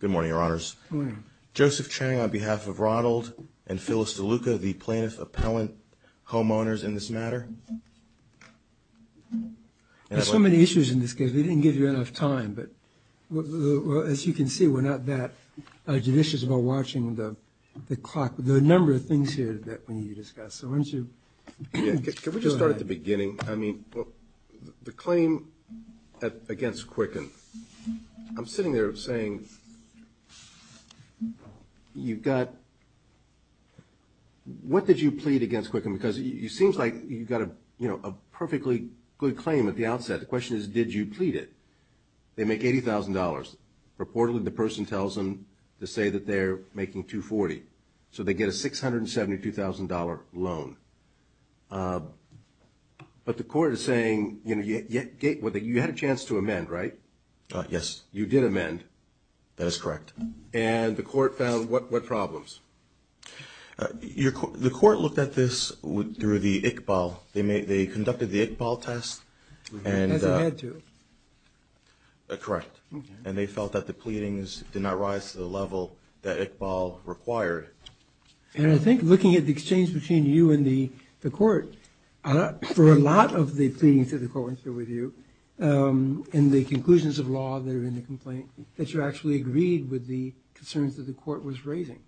Good morning, Your Honors. Good morning. Joseph Chang on behalf of Ronald and Phyllis DeLuca, the plaintiff-appellant homeowners in this matter. There's so many issues in this case, we didn't give you enough time. But as you can see, we're not that judicious about watching the clock, the number of things here that we need to discuss. So why don't you go ahead. At the beginning, I mean, the claim against Quicken. I'm sitting there saying, you've got, what did you plead against Quicken? Because it seems like you've got a perfectly good claim at the outset. The question is, did you plead it? They make $80,000. Reportedly, the person tells them to say that they're making $240,000. So they get a $672,000 loan. But the court is saying, you know, you had a chance to amend, right? Yes. You did amend. That is correct. And the court found what problems? The court looked at this through the ICBAL. They conducted the ICBAL test. It hasn't had to. Correct. And they felt that the pleadings did not rise to the level that ICBAL required. And I think looking at the exchange between you and the court, for a lot of the pleadings that the court went through with you and the conclusions of law that are in the complaint, that you actually agreed with the concerns that the court was raising,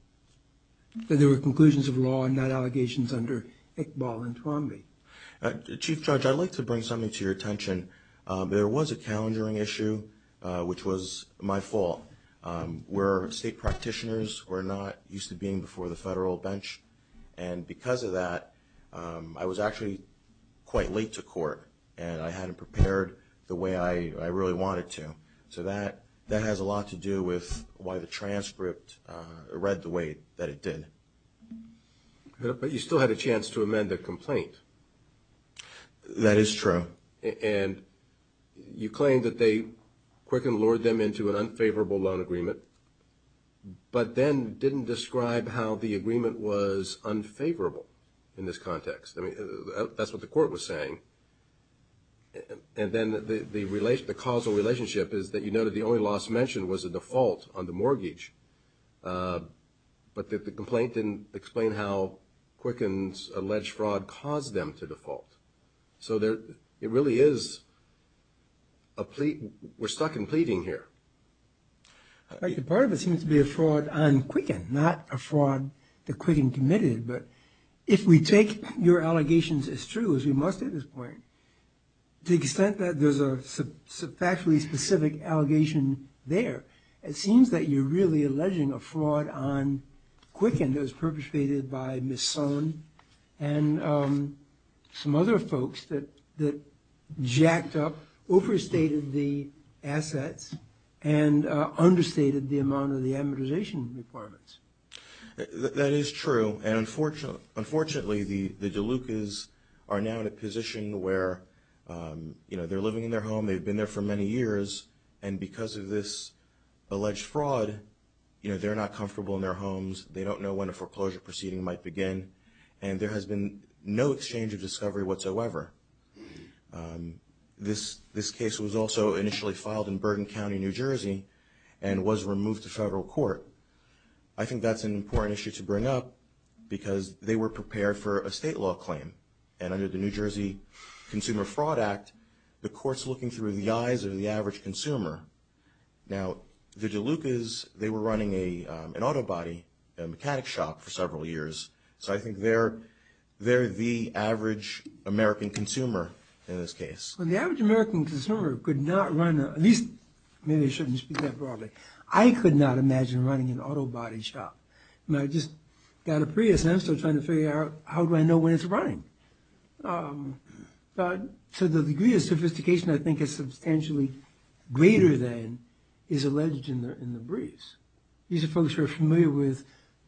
that there were conclusions of law and not allegations under ICBAL and TROMBE. Chief Judge, I'd like to bring something to your attention. There was a calendaring issue, which was my fault, where state practitioners were not used to being before the federal bench. And because of that, I was actually quite late to court, and I hadn't prepared the way I really wanted to. So that has a lot to do with why the transcript read the way that it did. But you still had a chance to amend the complaint. That is true. And you claim that Quicken lured them into an unfavorable loan agreement, but then didn't describe how the agreement was unfavorable in this context. I mean, that's what the court was saying. And then the causal relationship is that you noted the only loss mentioned was a default on the mortgage, but that the complaint didn't explain how Quicken's alleged fraud caused them to default. So it really is a plea. We're stuck in pleading here. Part of it seems to be a fraud on Quicken, not a fraud that Quicken committed. But if we take your allegations as true, as we must at this point, to the extent that there's a factually specific allegation there, it seems that you're really alleging a fraud on Quicken that was perpetrated by Mison and some other folks that jacked up, overstated the assets, and understated the amount of the amortization requirements. That is true. And unfortunately, the DeLucas are now in a position where they're living in their home. They've been there for many years. And because of this alleged fraud, they're not comfortable in their homes. They don't know when a foreclosure proceeding might begin. And there has been no exchange of discovery whatsoever. This case was also initially filed in Burden County, New Jersey, and was removed to federal court. I think that's an important issue to bring up because they were prepared for a state law claim. And under the New Jersey Consumer Fraud Act, the court's looking through the eyes of the average consumer. Now, the DeLucas, they were running an auto body, a mechanic shop, for several years. So I think they're the average American consumer in this case. Well, the average American consumer could not run, at least maybe I shouldn't speak that broadly, I could not imagine running an auto body shop. I just got a Prius and I'm still trying to figure out how do I know when it's running. So the degree of sophistication I think is substantially greater than is alleged in the briefs. These are folks who are familiar with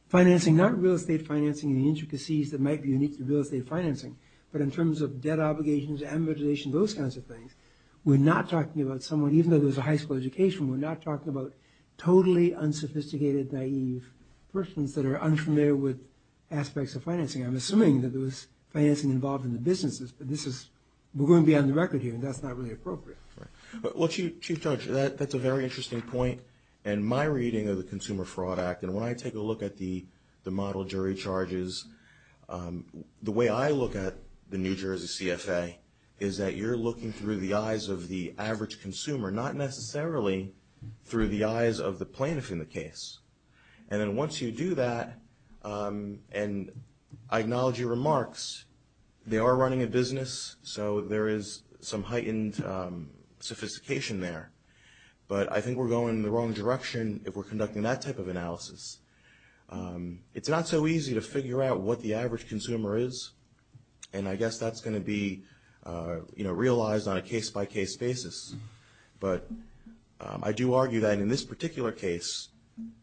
financing, not real estate financing, the intricacies that might be unique to real estate financing, but in terms of debt obligations, amortization, those kinds of things. We're not talking about someone, even though there's a high school education, we're not talking about totally unsophisticated, naive persons that are unfamiliar with aspects of financing. I'm assuming that there was financing involved in the businesses, but we're going to be on the record here and that's not really appropriate. Well, Chief Judge, that's a very interesting point. In my reading of the Consumer Fraud Act, and when I take a look at the model jury charges, the way I look at the New Jersey CFA is that you're looking through the eyes of the average consumer, not necessarily through the eyes of the plaintiff in the case. And then once you do that, and I acknowledge your remarks, they are running a business, so there is some heightened sophistication there. But I think we're going in the wrong direction if we're conducting that type of analysis. It's not so easy to figure out what the average consumer is, and I guess that's going to be realized on a case-by-case basis. But I do argue that in this particular case,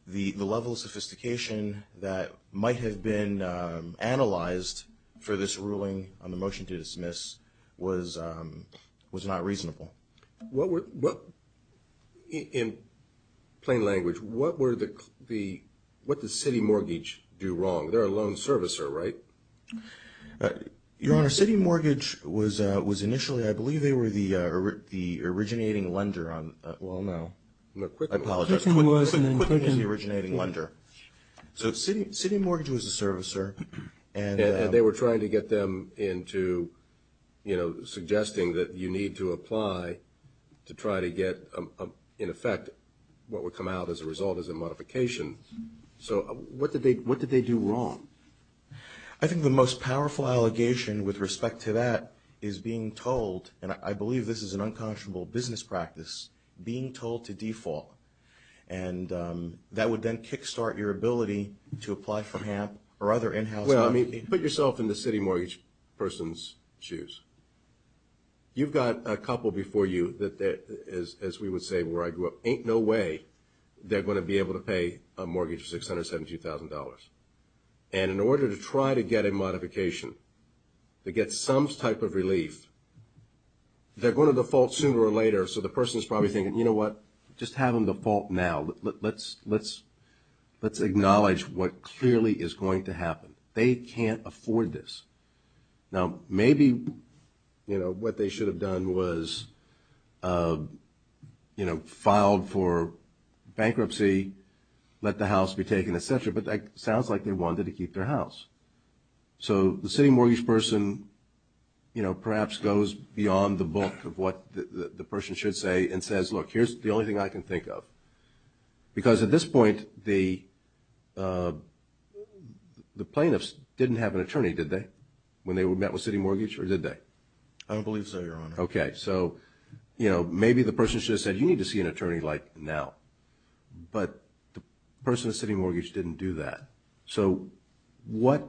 the level of sophistication that might have been analyzed for this ruling on the motion to dismiss was not reasonable. In plain language, what does City Mortgage do wrong? They're a loan servicer, right? Your Honor, City Mortgage was initially, I believe they were the originating lender on, well, no. I apologize. Quicken was, and then Quicken. Quicken was the originating lender. So City Mortgage was a servicer, and they were trying to get them into, you know, suggesting that you need to apply to try to get, in effect, what would come out as a result as a modification. So what did they do wrong? I think the most powerful allegation with respect to that is being told, and I believe this is an unconscionable business practice, being told to default. And that would then kick-start your ability to apply for HAMP or other in-house money. Well, I mean, put yourself in the City Mortgage person's shoes. You've got a couple before you that, as we would say where I grew up, ain't no way they're going to be able to pay a mortgage for $672,000. And in order to try to get a modification, to get some type of relief, they're going to default sooner or later. So the person's probably thinking, you know what, just have them default now. Let's acknowledge what clearly is going to happen. They can't afford this. Now, maybe, you know, what they should have done was, you know, filed for bankruptcy, let the house be taken, et cetera. But it sounds like they wanted to keep their house. So the City Mortgage person, you know, perhaps goes beyond the book of what the person should say and says, look, here's the only thing I can think of. Because at this point, the plaintiffs didn't have an attorney, did they, when they met with City Mortgage, or did they? I don't believe so, Your Honor. Okay. So, you know, maybe the person should have said, you need to see an attorney like now. But the person at City Mortgage didn't do that. So what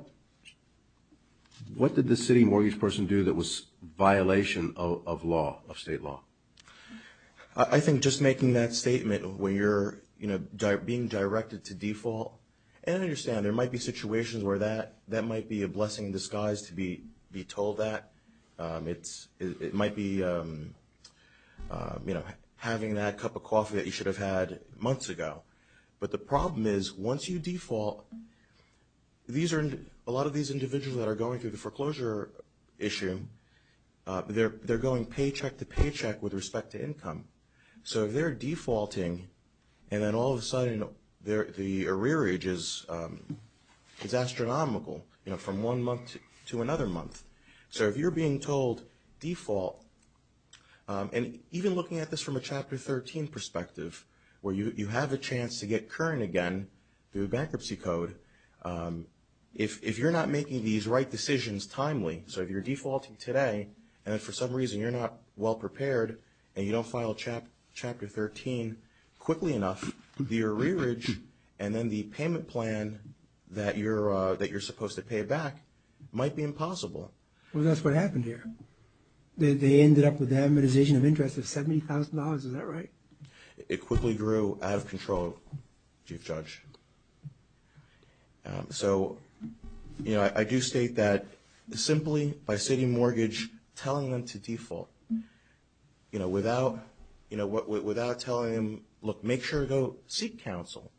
did the City Mortgage person do that was a violation of law, of state law? I think just making that statement when you're, you know, being directed to default. And I understand there might be situations where that might be a blessing in disguise to be told that. It might be, you know, having that cup of coffee that you should have had months ago. But the problem is, once you default, a lot of these individuals that are going through the foreclosure issue, they're going paycheck to paycheck with respect to income. So if they're defaulting, and then all of a sudden the arrearage is astronomical, you know, from one month to another month. So if you're being told default, and even looking at this from a Chapter 13 perspective, where you have a chance to get current again through bankruptcy code, if you're not making these right decisions timely, so if you're defaulting today, and then for some reason you're not well prepared, and you don't file Chapter 13 quickly enough, the arrearage and then the payment plan that you're supposed to pay back might be impossible. Well, that's what happened here. They ended up with the amortization of interest of $70,000. Is that right? It quickly grew out of control, Chief Judge. So, you know, I do state that simply by city mortgage telling them to default, you know, without telling them, look, make sure to go seek counsel.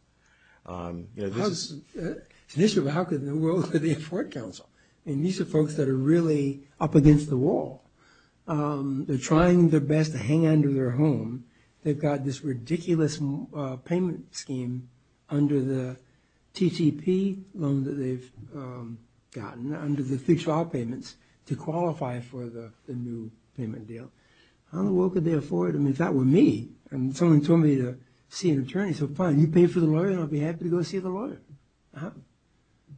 How could they afford counsel? And these are folks that are really up against the wall. They're trying their best to hang on to their home. They've got this ridiculous payment scheme under the TTP loan that they've gotten, under the three trial payments, to qualify for the new payment deal. I don't know what could they afford. I mean, if that were me, and someone told me to see an attorney, so fine, you pay for the lawyer, and I'll be happy to go see the lawyer.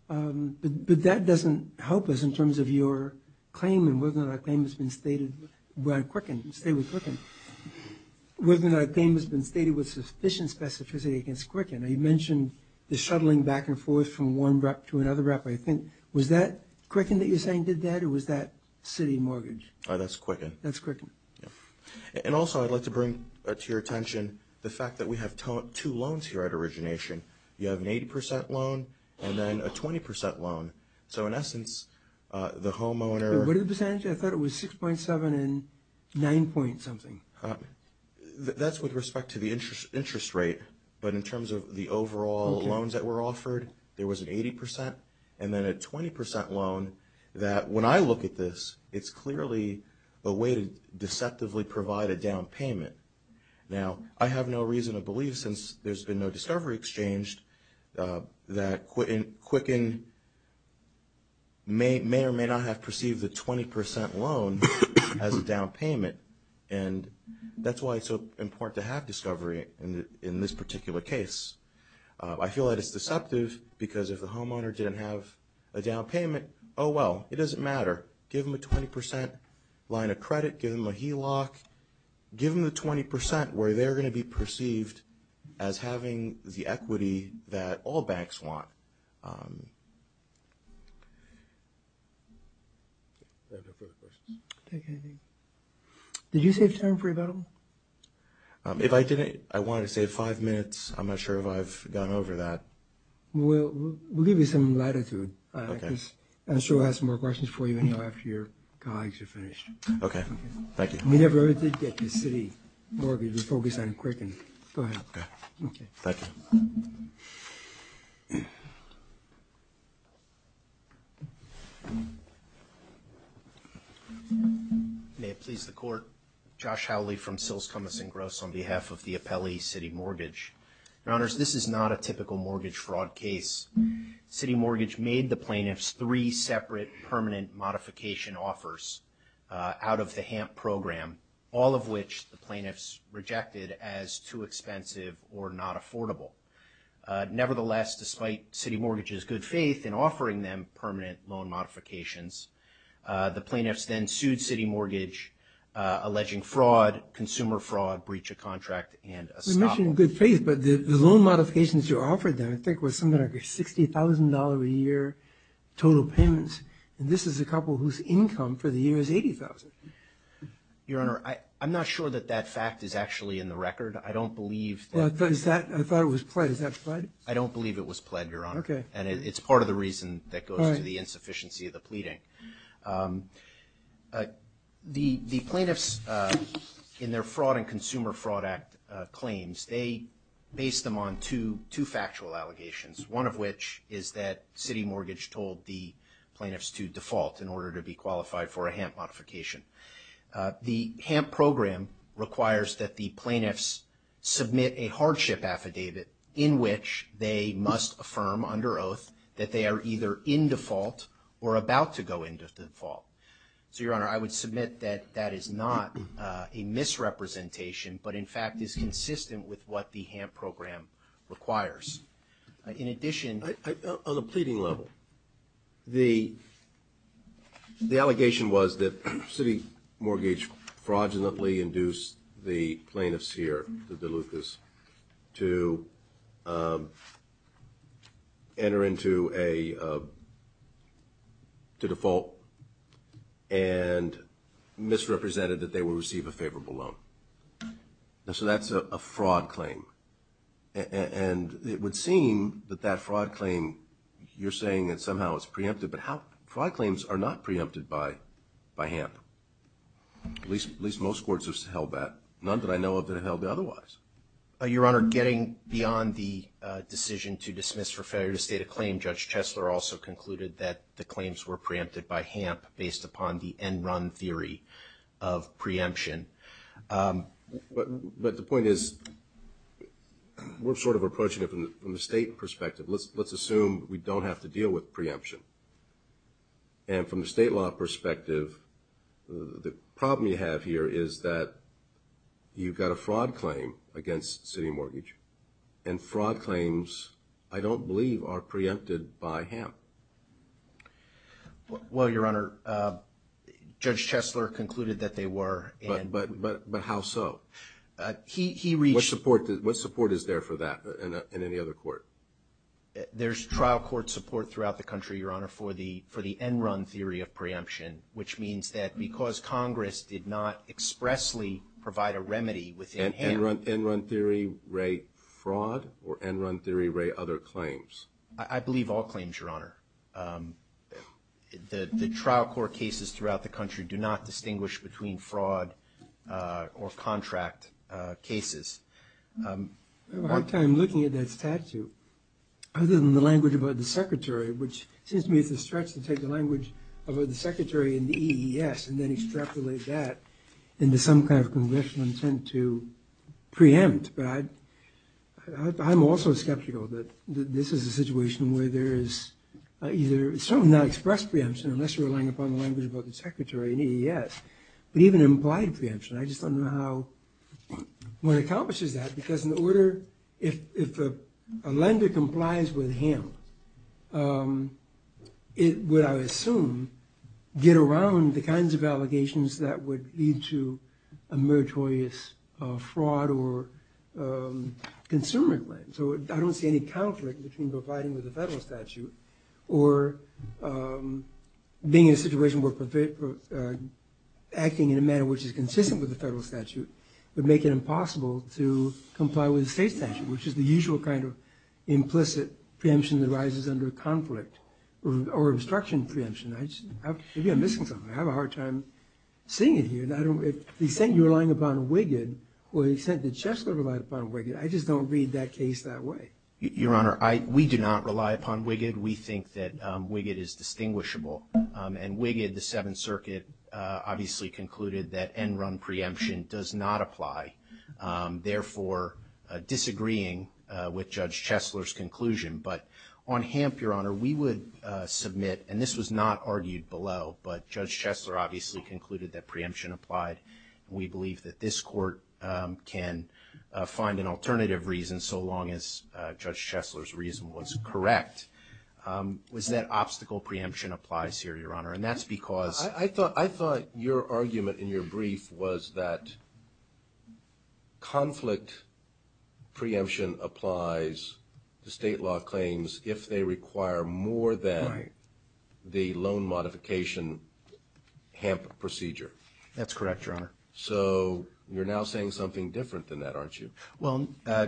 But that doesn't help us in terms of your claim, and whether or not a claim has been stated with sufficient specificity against Quicken. Now, you mentioned the shuttling back and forth from one rep to another rep. Was that Quicken that you're saying did that, or was that city mortgage? That's Quicken. That's Quicken. And also, I'd like to bring to your attention the fact that we have two loans here at Origination. You have an 80 percent loan and then a 20 percent loan. So, in essence, the homeowner— What are the percentages? I thought it was 6.7 and 9 point something. That's with respect to the interest rate, but in terms of the overall loans that were offered, there was an 80 percent and then a 20 percent loan that, when I look at this, it's clearly a way to deceptively provide a down payment. Now, I have no reason to believe, since there's been no discovery exchanged, that Quicken may or may not have perceived the 20 percent loan as a down payment, and that's why it's so important to have discovery in this particular case. I feel that it's deceptive because if the homeowner didn't have a down payment, oh well, it doesn't matter. Give them a 20 percent line of credit. Give them a HELOC. Give them the 20 percent where they're going to be perceived as having the equity that all banks want. Did you save time for rebuttal? If I didn't, I wanted to save five minutes. I'm not sure if I've gone over that. We'll give you some latitude. Okay. I'm sure we'll have some more questions for you after your colleagues are finished. Okay. Thank you. We never really did get the city mortgage. We focused on Quicken. Go ahead. Okay. Thank you. May it please the Court. Josh Howley from Sills, Cummins & Gross on behalf of the Appellee City Mortgage. Your Honors, this is not a typical mortgage fraud case. City Mortgage made the plaintiffs three separate permanent modification offers out of the HAMP program, all of which the plaintiffs rejected as too expensive or not affordable. Nevertheless, despite City Mortgage's good faith in offering them permanent loan modifications, the plaintiffs then sued City Mortgage, alleging fraud, consumer fraud, breach of contract, and estoppel. You mentioned good faith, but the loan modifications you offered them I think were something like $60,000 a year total payments. And this is a couple whose income for the year is $80,000. Your Honor, I'm not sure that that fact is actually in the record. I don't believe that. I thought it was pledged. Is that pledged? I don't believe it was pledged, Your Honor. Okay. And it's part of the reason that goes to the insufficiency of the pleading. The plaintiffs in their Fraud and Consumer Fraud Act claims, they base them on two factual allegations, one of which is that City Mortgage told the plaintiffs to default in order to be qualified for a HAMP modification. The HAMP program requires that the plaintiffs submit a hardship affidavit in which they must affirm under oath that they are either in default or about to go into default. So, Your Honor, I would submit that that is not a misrepresentation, but in fact is consistent with what the HAMP program requires. In addition... On the pleading level, the allegation was that City Mortgage fraudulently induced the plaintiffs here, the Delucas, to enter into a default and misrepresented that they would receive a favorable loan. So that's a fraud claim. And it would seem that that fraud claim, you're saying that somehow it's preempted, but fraud claims are not preempted by HAMP. At least most courts have held that. None that I know of that have held it otherwise. Your Honor, getting beyond the decision to dismiss for failure to state a claim, Judge Chesler also concluded that the claims were preempted by HAMP based upon the end run theory of preemption. But the point is, we're sort of approaching it from the state perspective. Let's assume we don't have to deal with preemption. And from the state law perspective, the problem you have here is that you've got a fraud claim against City Mortgage, and fraud claims, I don't believe, are preempted by HAMP. Well, Your Honor, Judge Chesler concluded that they were. But how so? He reached – What support is there for that in any other court? There's trial court support throughout the country, Your Honor, for the end run theory of preemption, which means that because Congress did not expressly provide a remedy within HAMP – Fraud or end run theory, Ray, other claims? I believe all claims, Your Honor. The trial court cases throughout the country do not distinguish between fraud or contract cases. I have a hard time looking at that statute, other than the language about the secretary, which seems to me it's a stretch to take the language about the secretary and the EES and then extrapolate that into some kind of congressional intent to preempt. But I'm also skeptical that this is a situation where there is either – it's certainly not expressed preemption, unless you're relying upon the language about the secretary and EES, but even implied preemption. I just don't know how – what accomplishes that, because in order – if a lender complies with HAMP, it would, I assume, get around the kinds of allegations that would lead to a meritorious fraud or consumer claim. So I don't see any conflict between complying with the federal statute or being in a situation where acting in a manner which is consistent with the federal statute would make it impossible to comply with the state statute, which is the usual kind of implicit preemption that arises under conflict or obstruction preemption. Maybe I'm missing something. I have a hard time seeing it here. He's saying you're relying upon WIGGD. Well, he said, did Chesler rely upon WIGGD? I just don't read that case that way. Your Honor, we do not rely upon WIGGD. We think that WIGGD is distinguishable. And WIGGD, the Seventh Circuit, obviously concluded that end-run preemption does not apply, therefore disagreeing with Judge Chesler's conclusion. But on HAMP, Your Honor, we would submit, and this was not argued below, but Judge Chesler obviously concluded that preemption applied. We believe that this court can find an alternative reason so long as Judge Chesler's reason was correct. Was that obstacle preemption applies here, Your Honor? I thought your argument in your brief was that conflict preemption applies to state law claims if they require more than the loan modification HAMP procedure. That's correct, Your Honor. So you're now saying something different than that, aren't you? Well,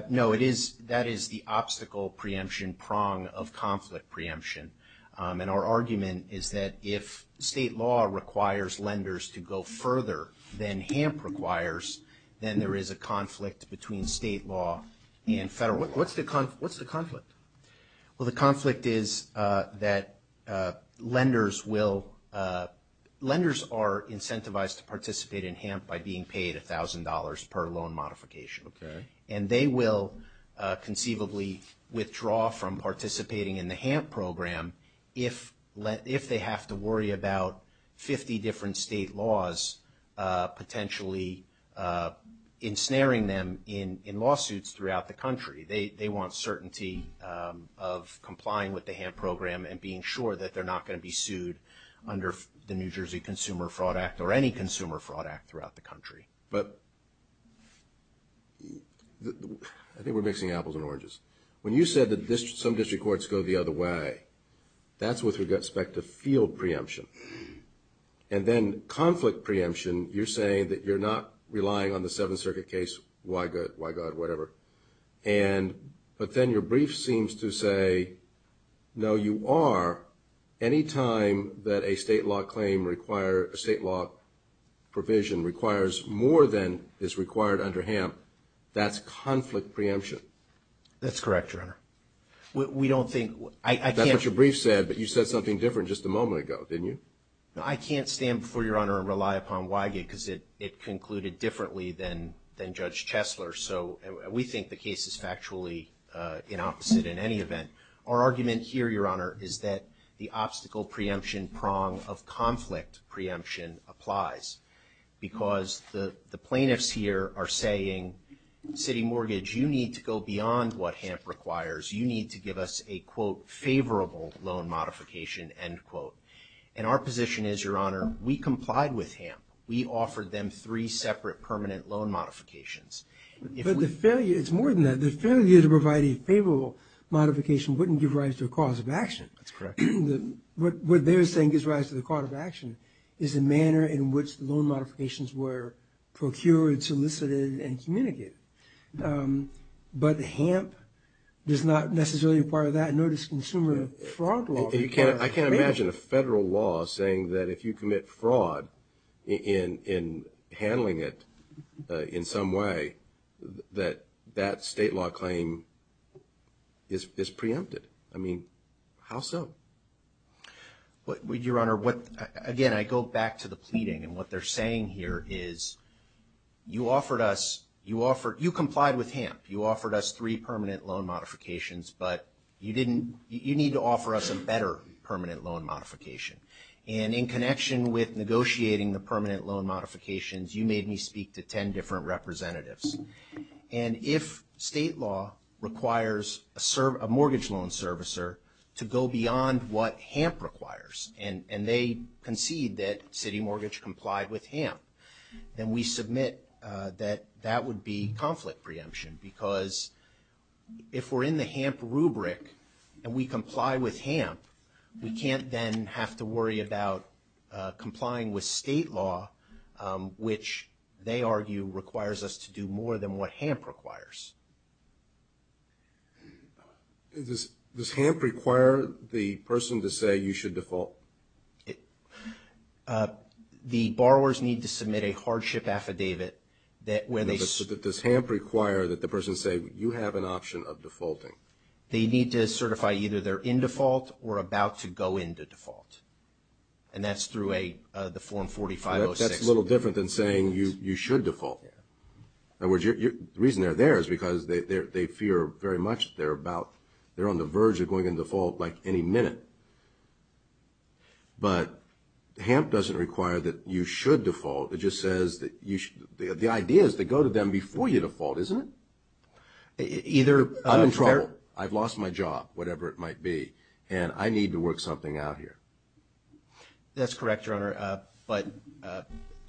no, that is the obstacle preemption prong of conflict preemption. And our argument is that if state law requires lenders to go further than HAMP requires, then there is a conflict between state law and federal law. What's the conflict? Well, the conflict is that lenders are incentivized to participate in HAMP by being paid $1,000 per loan modification. Okay. And they will conceivably withdraw from participating in the HAMP program if they have to worry about 50 different state laws potentially ensnaring them in lawsuits throughout the country. They want certainty of complying with the HAMP program and being sure that they're not going to be sued under the New Jersey Consumer Fraud Act or any Consumer Fraud Act throughout the country. Okay. But I think we're mixing apples and oranges. When you said that some district courts go the other way, that's with respect to field preemption. And then conflict preemption, you're saying that you're not relying on the Seventh Circuit case, why good, why God, whatever. But then your brief seems to say, no, you are. Anytime that a state law provision requires more than is required under HAMP, that's conflict preemption. That's correct, Your Honor. That's what your brief said, but you said something different just a moment ago, didn't you? I can't stand before Your Honor and rely upon why good because it concluded differently than Judge Chesler. So we think the case is factually inopposite in any event. Our argument here, Your Honor, is that the obstacle preemption prong of conflict preemption applies because the plaintiffs here are saying, city mortgage, you need to go beyond what HAMP requires. You need to give us a, quote, favorable loan modification, end quote. And our position is, Your Honor, we complied with HAMP. We offered them three separate permanent loan modifications. But the failure, it's more than that. The failure to provide a favorable modification wouldn't give rise to a cause of action. That's correct. What they're saying gives rise to the cause of action is the manner in which the loan modifications were procured, solicited, and communicated. But HAMP does not necessarily require that, nor does consumer fraud law require that. That state law claim is preempted. I mean, how so? Your Honor, again, I go back to the pleading. And what they're saying here is you offered us, you complied with HAMP. You offered us three permanent loan modifications, but you didn't, you need to offer us a better permanent loan modification. And in connection with negotiating the permanent loan modifications, you made me speak to ten different representatives. And if state law requires a mortgage loan servicer to go beyond what HAMP requires, and they concede that City Mortgage complied with HAMP, then we submit that that would be conflict preemption. Because if we're in the HAMP rubric and we comply with HAMP, we can't then have to worry about complying with state law, which they argue requires us to do more than what HAMP requires. Does HAMP require the person to say you should default? The borrowers need to submit a hardship affidavit. Does HAMP require that the person say you have an option of defaulting? They need to certify either they're in default or about to go into default. And that's through the form 4506. That's a little different than saying you should default. In other words, the reason they're there is because they fear very much they're about, they're on the verge of going into default like any minute. But HAMP doesn't require that you should default. It just says that you should. The idea is to go to them before you default, isn't it? I'm in trouble. I've lost my job, whatever it might be, and I need to work something out here. That's correct, Your Honor, but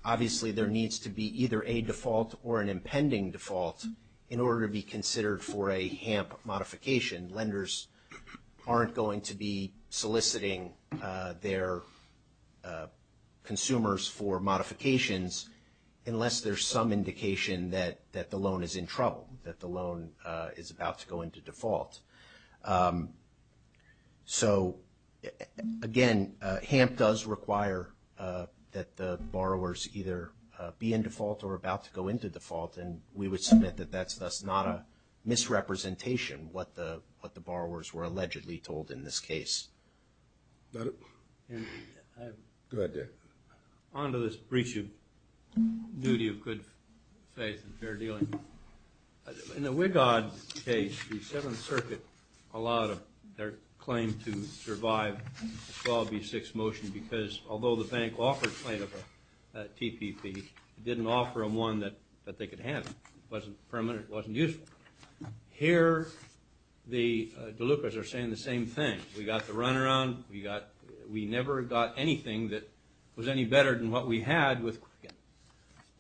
obviously there needs to be either a default or an impending default in order to be considered for a HAMP modification. Lenders aren't going to be soliciting their consumers for modifications unless there's some indication that the loan is in trouble, that the loan is about to go into default. So, again, HAMP does require that the borrowers either be in default or about to go into default, and we would submit that that's thus not a misrepresentation, what the borrowers were allegedly told in this case. Go ahead, Dick. On to this breach of duty of good faith and fair dealing. In the Wigod case, the Seventh Circuit allowed their claim to survive the 12B6 motion because although the bank offered plaintiff a TPP, it didn't offer them one that they could have. It wasn't permanent. It wasn't useful. Here, the Delucas are saying the same thing. We got the runaround. We never got anything that was any better than what we had with Quicken.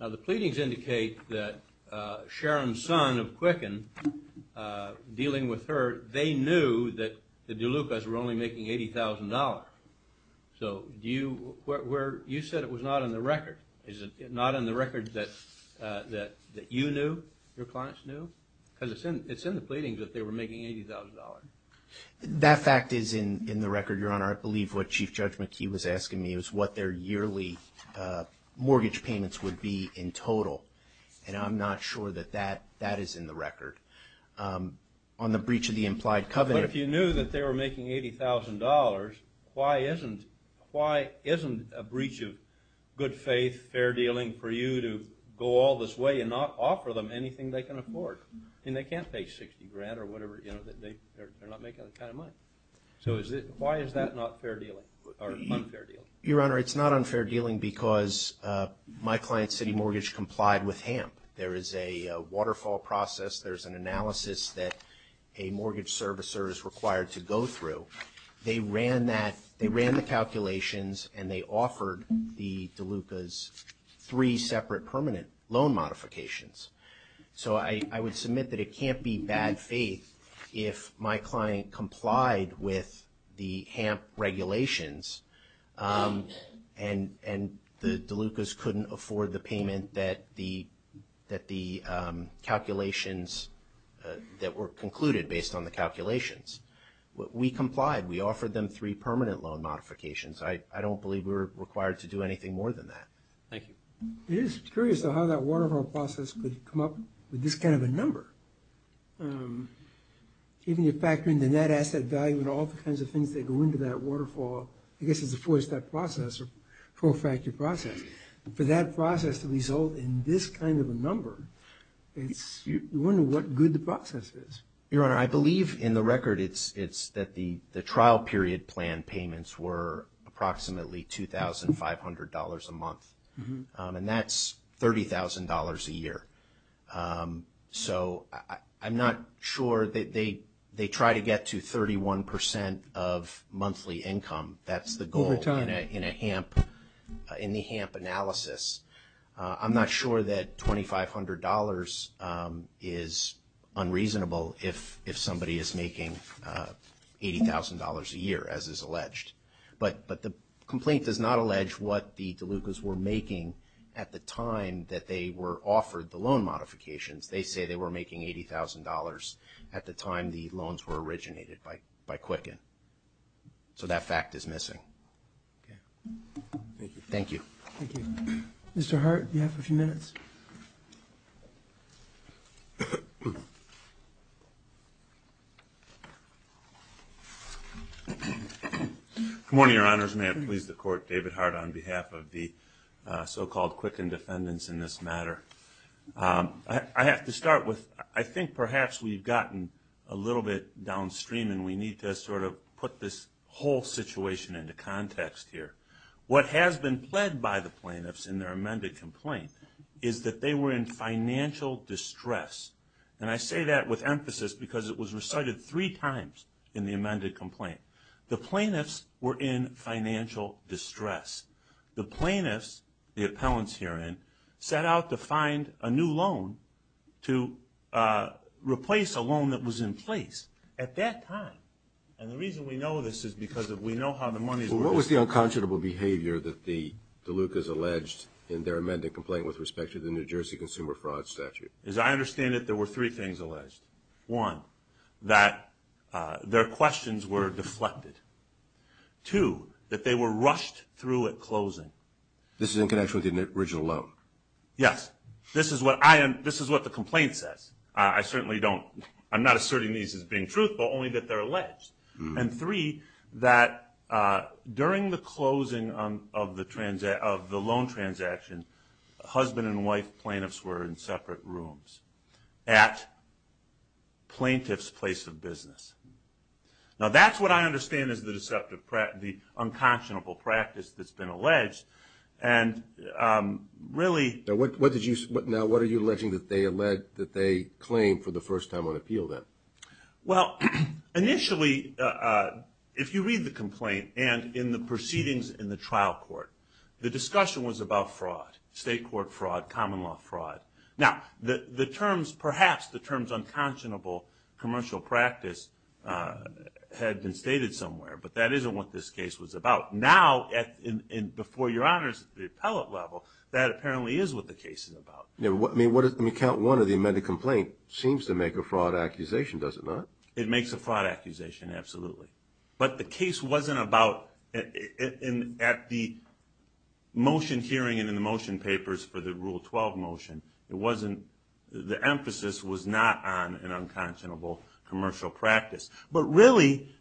Now, the pleadings indicate that Sharon's son of Quicken, dealing with her, they knew that the Delucas were only making $80,000. So you said it was not on the record. Is it not on the record that you knew, your clients knew? Because it's in the pleadings that they were making $80,000. That fact is in the record, Your Honor. I believe what Chief Judge McKee was asking me was what their yearly mortgage payments would be in total, and I'm not sure that that is in the record. On the breach of the implied covenant. But if you knew that they were making $80,000, why isn't a breach of good faith, fair dealing for you to go all this way and not offer them anything they can afford? I mean, they can't pay $60,000 or whatever. They're not making that kind of money. So why is that not fair dealing or unfair dealing? Your Honor, it's not unfair dealing because my client's city mortgage complied with HAMP. There is a waterfall process. There's an analysis that a mortgage servicer is required to go through. They ran the calculations, and they offered the Delucas three separate permanent loan modifications. So I would submit that it can't be bad faith if my client complied with the HAMP regulations and the Delucas couldn't afford the payment that the calculations that were concluded based on the calculations. We complied. We offered them three permanent loan modifications. I don't believe we were required to do anything more than that. Thank you. It is curious though how that waterfall process could come up with this kind of a number. Even if you factor in the net asset value and all the kinds of things that go into that waterfall, I guess it's a four-step process or four-factor process. For that process to result in this kind of a number, you wonder what good the process is. Your Honor, I believe in the record it's that the trial period plan payments were approximately $2,500 a month. And that's $30,000 a year. So I'm not sure that they try to get to 31% of monthly income. That's the goal in the HAMP analysis. I'm not sure that $2,500 is unreasonable if somebody is making $80,000 a year, as is alleged. But the complaint does not allege what the Delucas were making at the time that they were offered the loan modifications. They say they were making $80,000 at the time the loans were originated by Quicken. So that fact is missing. Thank you. Thank you. Mr. Hart, you have a few minutes. Good morning, Your Honors. May it please the Court, David Hart on behalf of the so-called Quicken defendants in this matter. I have to start with I think perhaps we've gotten a little bit downstream, and we need to sort of put this whole situation into context here. What has been pled by the plaintiffs in their amended complaint is that they were in financial distress. And I say that with emphasis because it was recited three times in the amended complaint. The plaintiffs were in financial distress. The plaintiffs, the appellants herein, set out to find a new loan to replace a loan that was in place at that time. And the reason we know this is because we know how the money was raised. Well, what was the unconscionable behavior that the Delucas alleged in their amended complaint with respect to the New Jersey Consumer Fraud Statute? As I understand it, there were three things alleged. One, that their questions were deflected. Two, that they were rushed through at closing. This is in connection with the original loan? Yes. This is what the complaint says. I'm not asserting these as being truthful, only that they're alleged. And three, that during the closing of the loan transaction, husband and wife plaintiffs were in separate rooms at plaintiff's place of business. Now, that's what I understand is the unconscionable practice that's been alleged. Now, what are you alleging that they claimed for the first time on appeal, then? Well, initially, if you read the complaint and in the proceedings in the trial court, the discussion was about fraud. State court fraud, common law fraud. Now, perhaps the terms unconscionable commercial practice had been stated somewhere, but that isn't what this case was about. Now, before your honors, at the appellate level, that apparently is what the case is about. Let me count one of the amended complaint. It seems to make a fraud accusation, does it not? It makes a fraud accusation, absolutely. But the case wasn't about, at the motion hearing and in the motion papers for the Rule 12 motion, the emphasis was not on an unconscionable commercial practice. But really,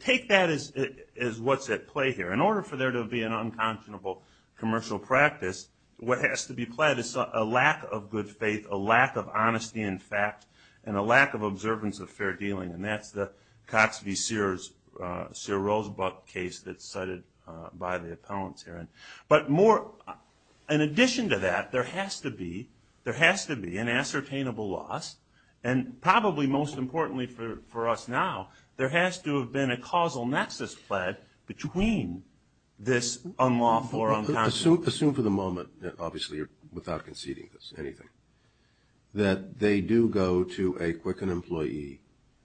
take that as what's at play here. In order for there to be an unconscionable commercial practice, what has to be pled is a lack of good faith, a lack of honesty in fact, and a lack of observance of fair dealing. And that's the Cox v. Sears, Sears-Rosebuck case that's cited by the appellants here. But more, in addition to that, there has to be an ascertainable loss. And probably most importantly for us now, there has to have been a causal nexus pled between this unlawful or unconscionable. Assume for the moment, obviously without conceding anything, that they do go to a Quicken employee,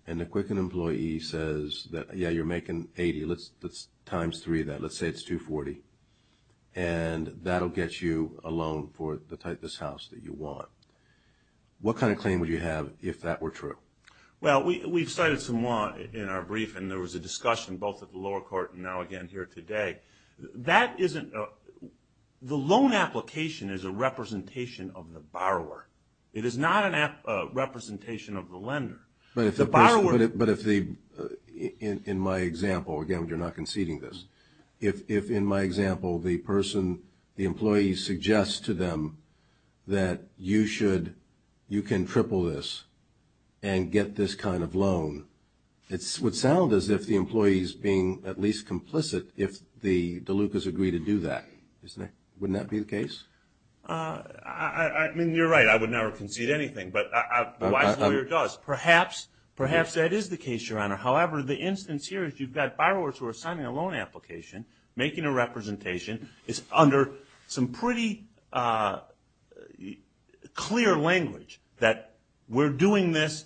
and the Quicken employee says that, yeah, you're making 80, let's times three that, let's say it's 240, and that will get you a loan for the type of house that you want. What kind of claim would you have if that were true? Well, we've cited some law in our brief, and there was a discussion both at the lower court and now again here today. That isn't – the loan application is a representation of the borrower. It is not a representation of the lender. But if the borrower – But if the – in my example, again, you're not conceding this. If, in my example, the person – the employee suggests to them that you should – you can triple this and get this kind of loan, it would sound as if the employee is being at least complicit if the Delucas agree to do that, isn't it? Wouldn't that be the case? I mean, you're right. I would never concede anything, but the wise lawyer does. Perhaps that is the case, Your Honor. However, the instance here is you've got borrowers who are signing a loan application, making a representation. It's under some pretty clear language that we're doing this,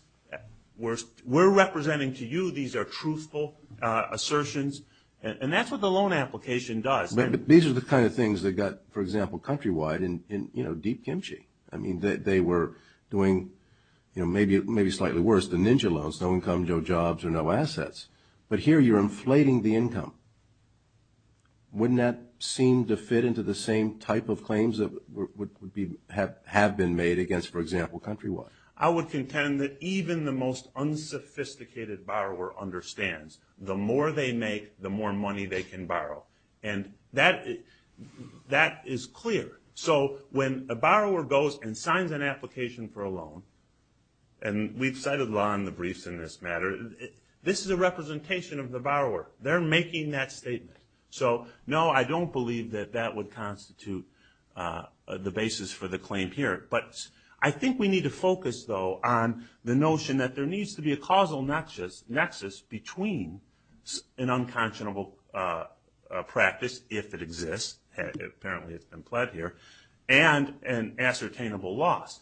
we're representing to you these are truthful assertions, and that's what the loan application does. But these are the kind of things that got, for example, countrywide in, you know, deep kimchi. I mean, they were doing, you know, maybe slightly worse than Ninja Loans. No income, no jobs, or no assets. But here you're inflating the income. Wouldn't that seem to fit into the same type of claims that would be – have been made against, for example, countrywide? I would contend that even the most unsophisticated borrower understands the more they make, the more money they can borrow. And that is clear. So when a borrower goes and signs an application for a loan, and we've cited law in the briefs in this matter, this is a representation of the borrower. They're making that statement. So, no, I don't believe that that would constitute the basis for the claim here. But I think we need to focus, though, on the notion that there needs to be a causal nexus between an unconscionable practice, if it exists – apparently it's been pled here – and an ascertainable loss.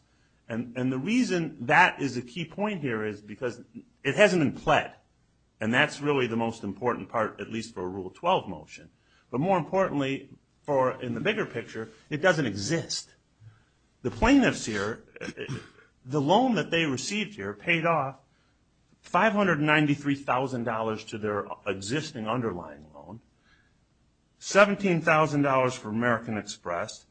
And the reason that is a key point here is because it hasn't been pled. And that's really the most important part, at least for a Rule 12 motion. But more importantly, in the bigger picture, it doesn't exist. The plaintiffs here, the loan that they received here paid off $593,000 to their existing underlying loan, $17,000 for American Express,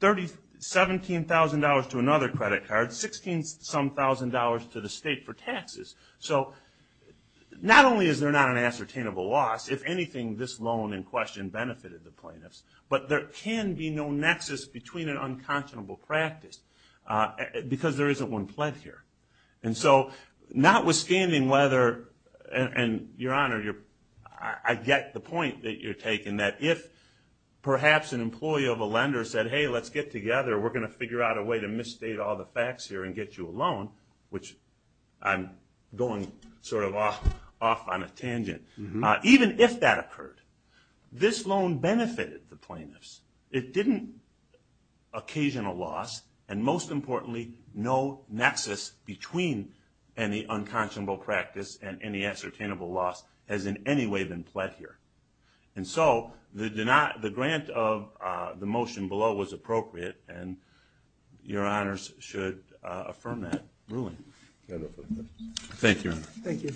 $17,000 to another credit card, $16-some-thousand to the state for taxes. So not only is there not an ascertainable loss, if anything, this loan in question benefited the plaintiffs. But there can be no nexus between an unconscionable practice because there isn't one pled here. And so notwithstanding whether – and, Your Honor, I get the point that you're taking, that if perhaps an employee of a lender said, hey, let's get together, we're going to figure out a way to misstate all the facts here and get you a loan, which I'm going sort of off on a tangent. Even if that occurred, this loan benefited the plaintiffs. It didn't occasion a loss, and most importantly, no nexus between any unconscionable practice and any ascertainable loss has in any way been pled here. And so the grant of the motion below was appropriate, and Your Honors should affirm that ruling. Thank you, Your Honor. Thank you.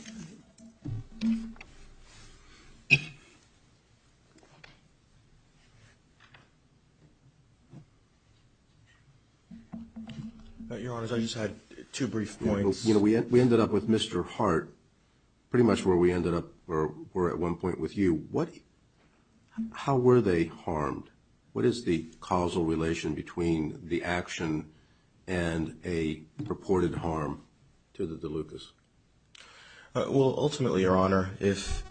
Your Honors, I just had two brief points. You know, we ended up with Mr. Hart pretty much where we ended up or were at one point with you. How were they harmed? What is the causal relation between the action and a purported harm to the DeLucas? Well, ultimately, Your Honor, if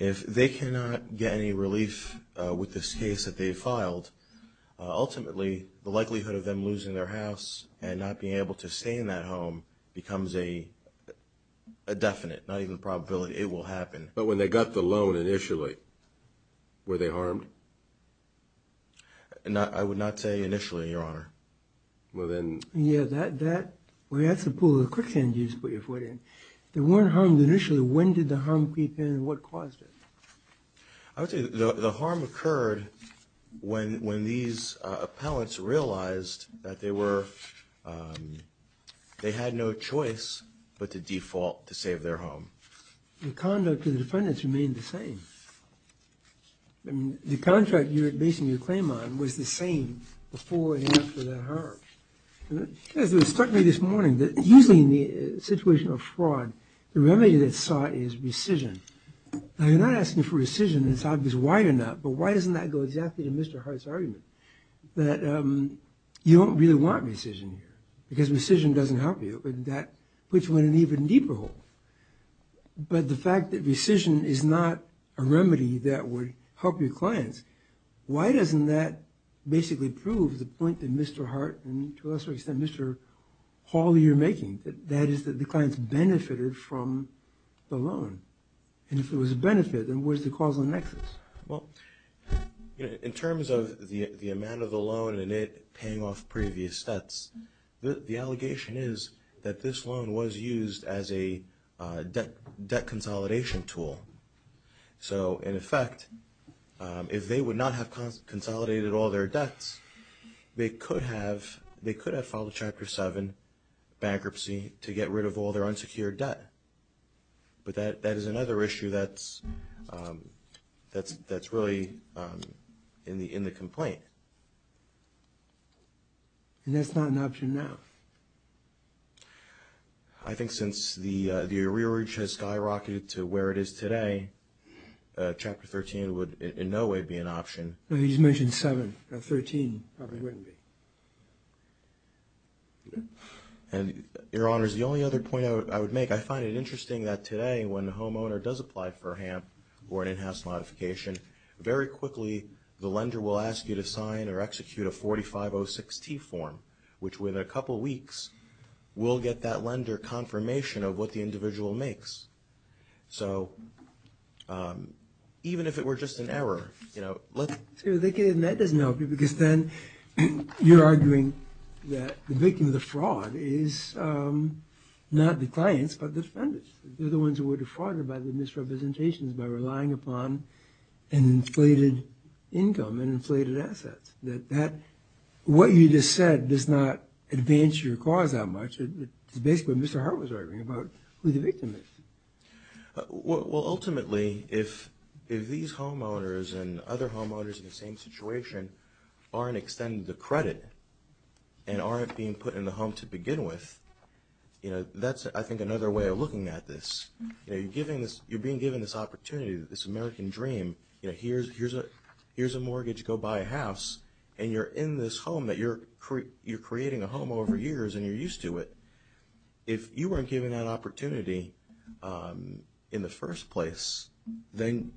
they cannot get any relief with this case that they filed, ultimately, the likelihood of them losing their house and not being able to stay in that home becomes a definite, not even a probability. It will happen. But when they got the loan initially, were they harmed? I would not say initially, Your Honor. Yeah, that's a pool of quicksand you just put your foot in. They weren't harmed initially. When did the harm creep in and what caused it? I would say the harm occurred when these appellants realized that they were, they had no choice but to default to save their home. The conduct of the defendants remained the same. The contract you're basing your claim on was the same before and after the harm. It struck me this morning that usually in the situation of fraud, the remedy that's sought is rescission. Now, you're not asking for rescission. It's obvious why you're not. But why doesn't that go exactly to Mr. Hart's argument that you don't really want rescission here because rescission doesn't help you and that puts you in an even deeper hole. But the fact that rescission is not a remedy that would help your clients, why doesn't that basically prove the point that Mr. Hart and, to a lesser extent, Mr. Hall, you're making, that is that the clients benefited from the loan? And if it was a benefit, then where's the causal nexus? Well, in terms of the amount of the loan and it paying off previous debts, the allegation is that this loan was used as a debt consolidation tool. So, in effect, if they would not have consolidated all their debts, they could have filed a Chapter 7 bankruptcy to get rid of all their unsecured debt. But that is another issue that's really in the complaint. And that's not an option now? I think since the arrearage has skyrocketed to where it is today, Chapter 13 would in no way be an option. No, he's mentioned 7. 13 probably wouldn't be. And, Your Honors, the only other point I would make, I find it interesting that today when the homeowner does apply for HAMP or an in-house modification, very quickly the lender will ask you to sign or execute a 4506-T form, which within a couple weeks will get that lender confirmation of what the individual makes. So, even if it were just an error, you know, let's... That doesn't help you because then you're arguing that the victim of the fraud is not the clients but the defenders. They're the ones who were defrauded by the misrepresentations by relying upon an inflated income and inflated assets. That what you just said does not advance your cause that much. That's basically what Mr. Hart was arguing about, who the victim is. Well, ultimately, if these homeowners and other homeowners in the same situation aren't extended the credit and aren't being put in the home to begin with, you know, that's, I think, another way of looking at this. You're being given this opportunity, this American dream, you know, here's a mortgage, go buy a house, and you're in this home that you're creating a home over years and you're used to it. If you weren't given that opportunity in the first place, then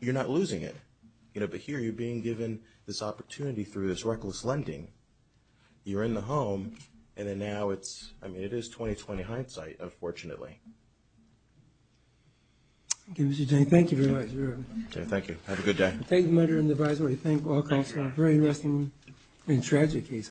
you're not losing it. You know, but here you're being given this opportunity through this reckless lending. You're in the home and then now it's, I mean, it is 2020 hindsight, unfortunately. Okay, Mr. J. Thank you very much. Thank you. Have a good day. Thank you, my dear advisor. I thank all of you. It's a very interesting and tragic case.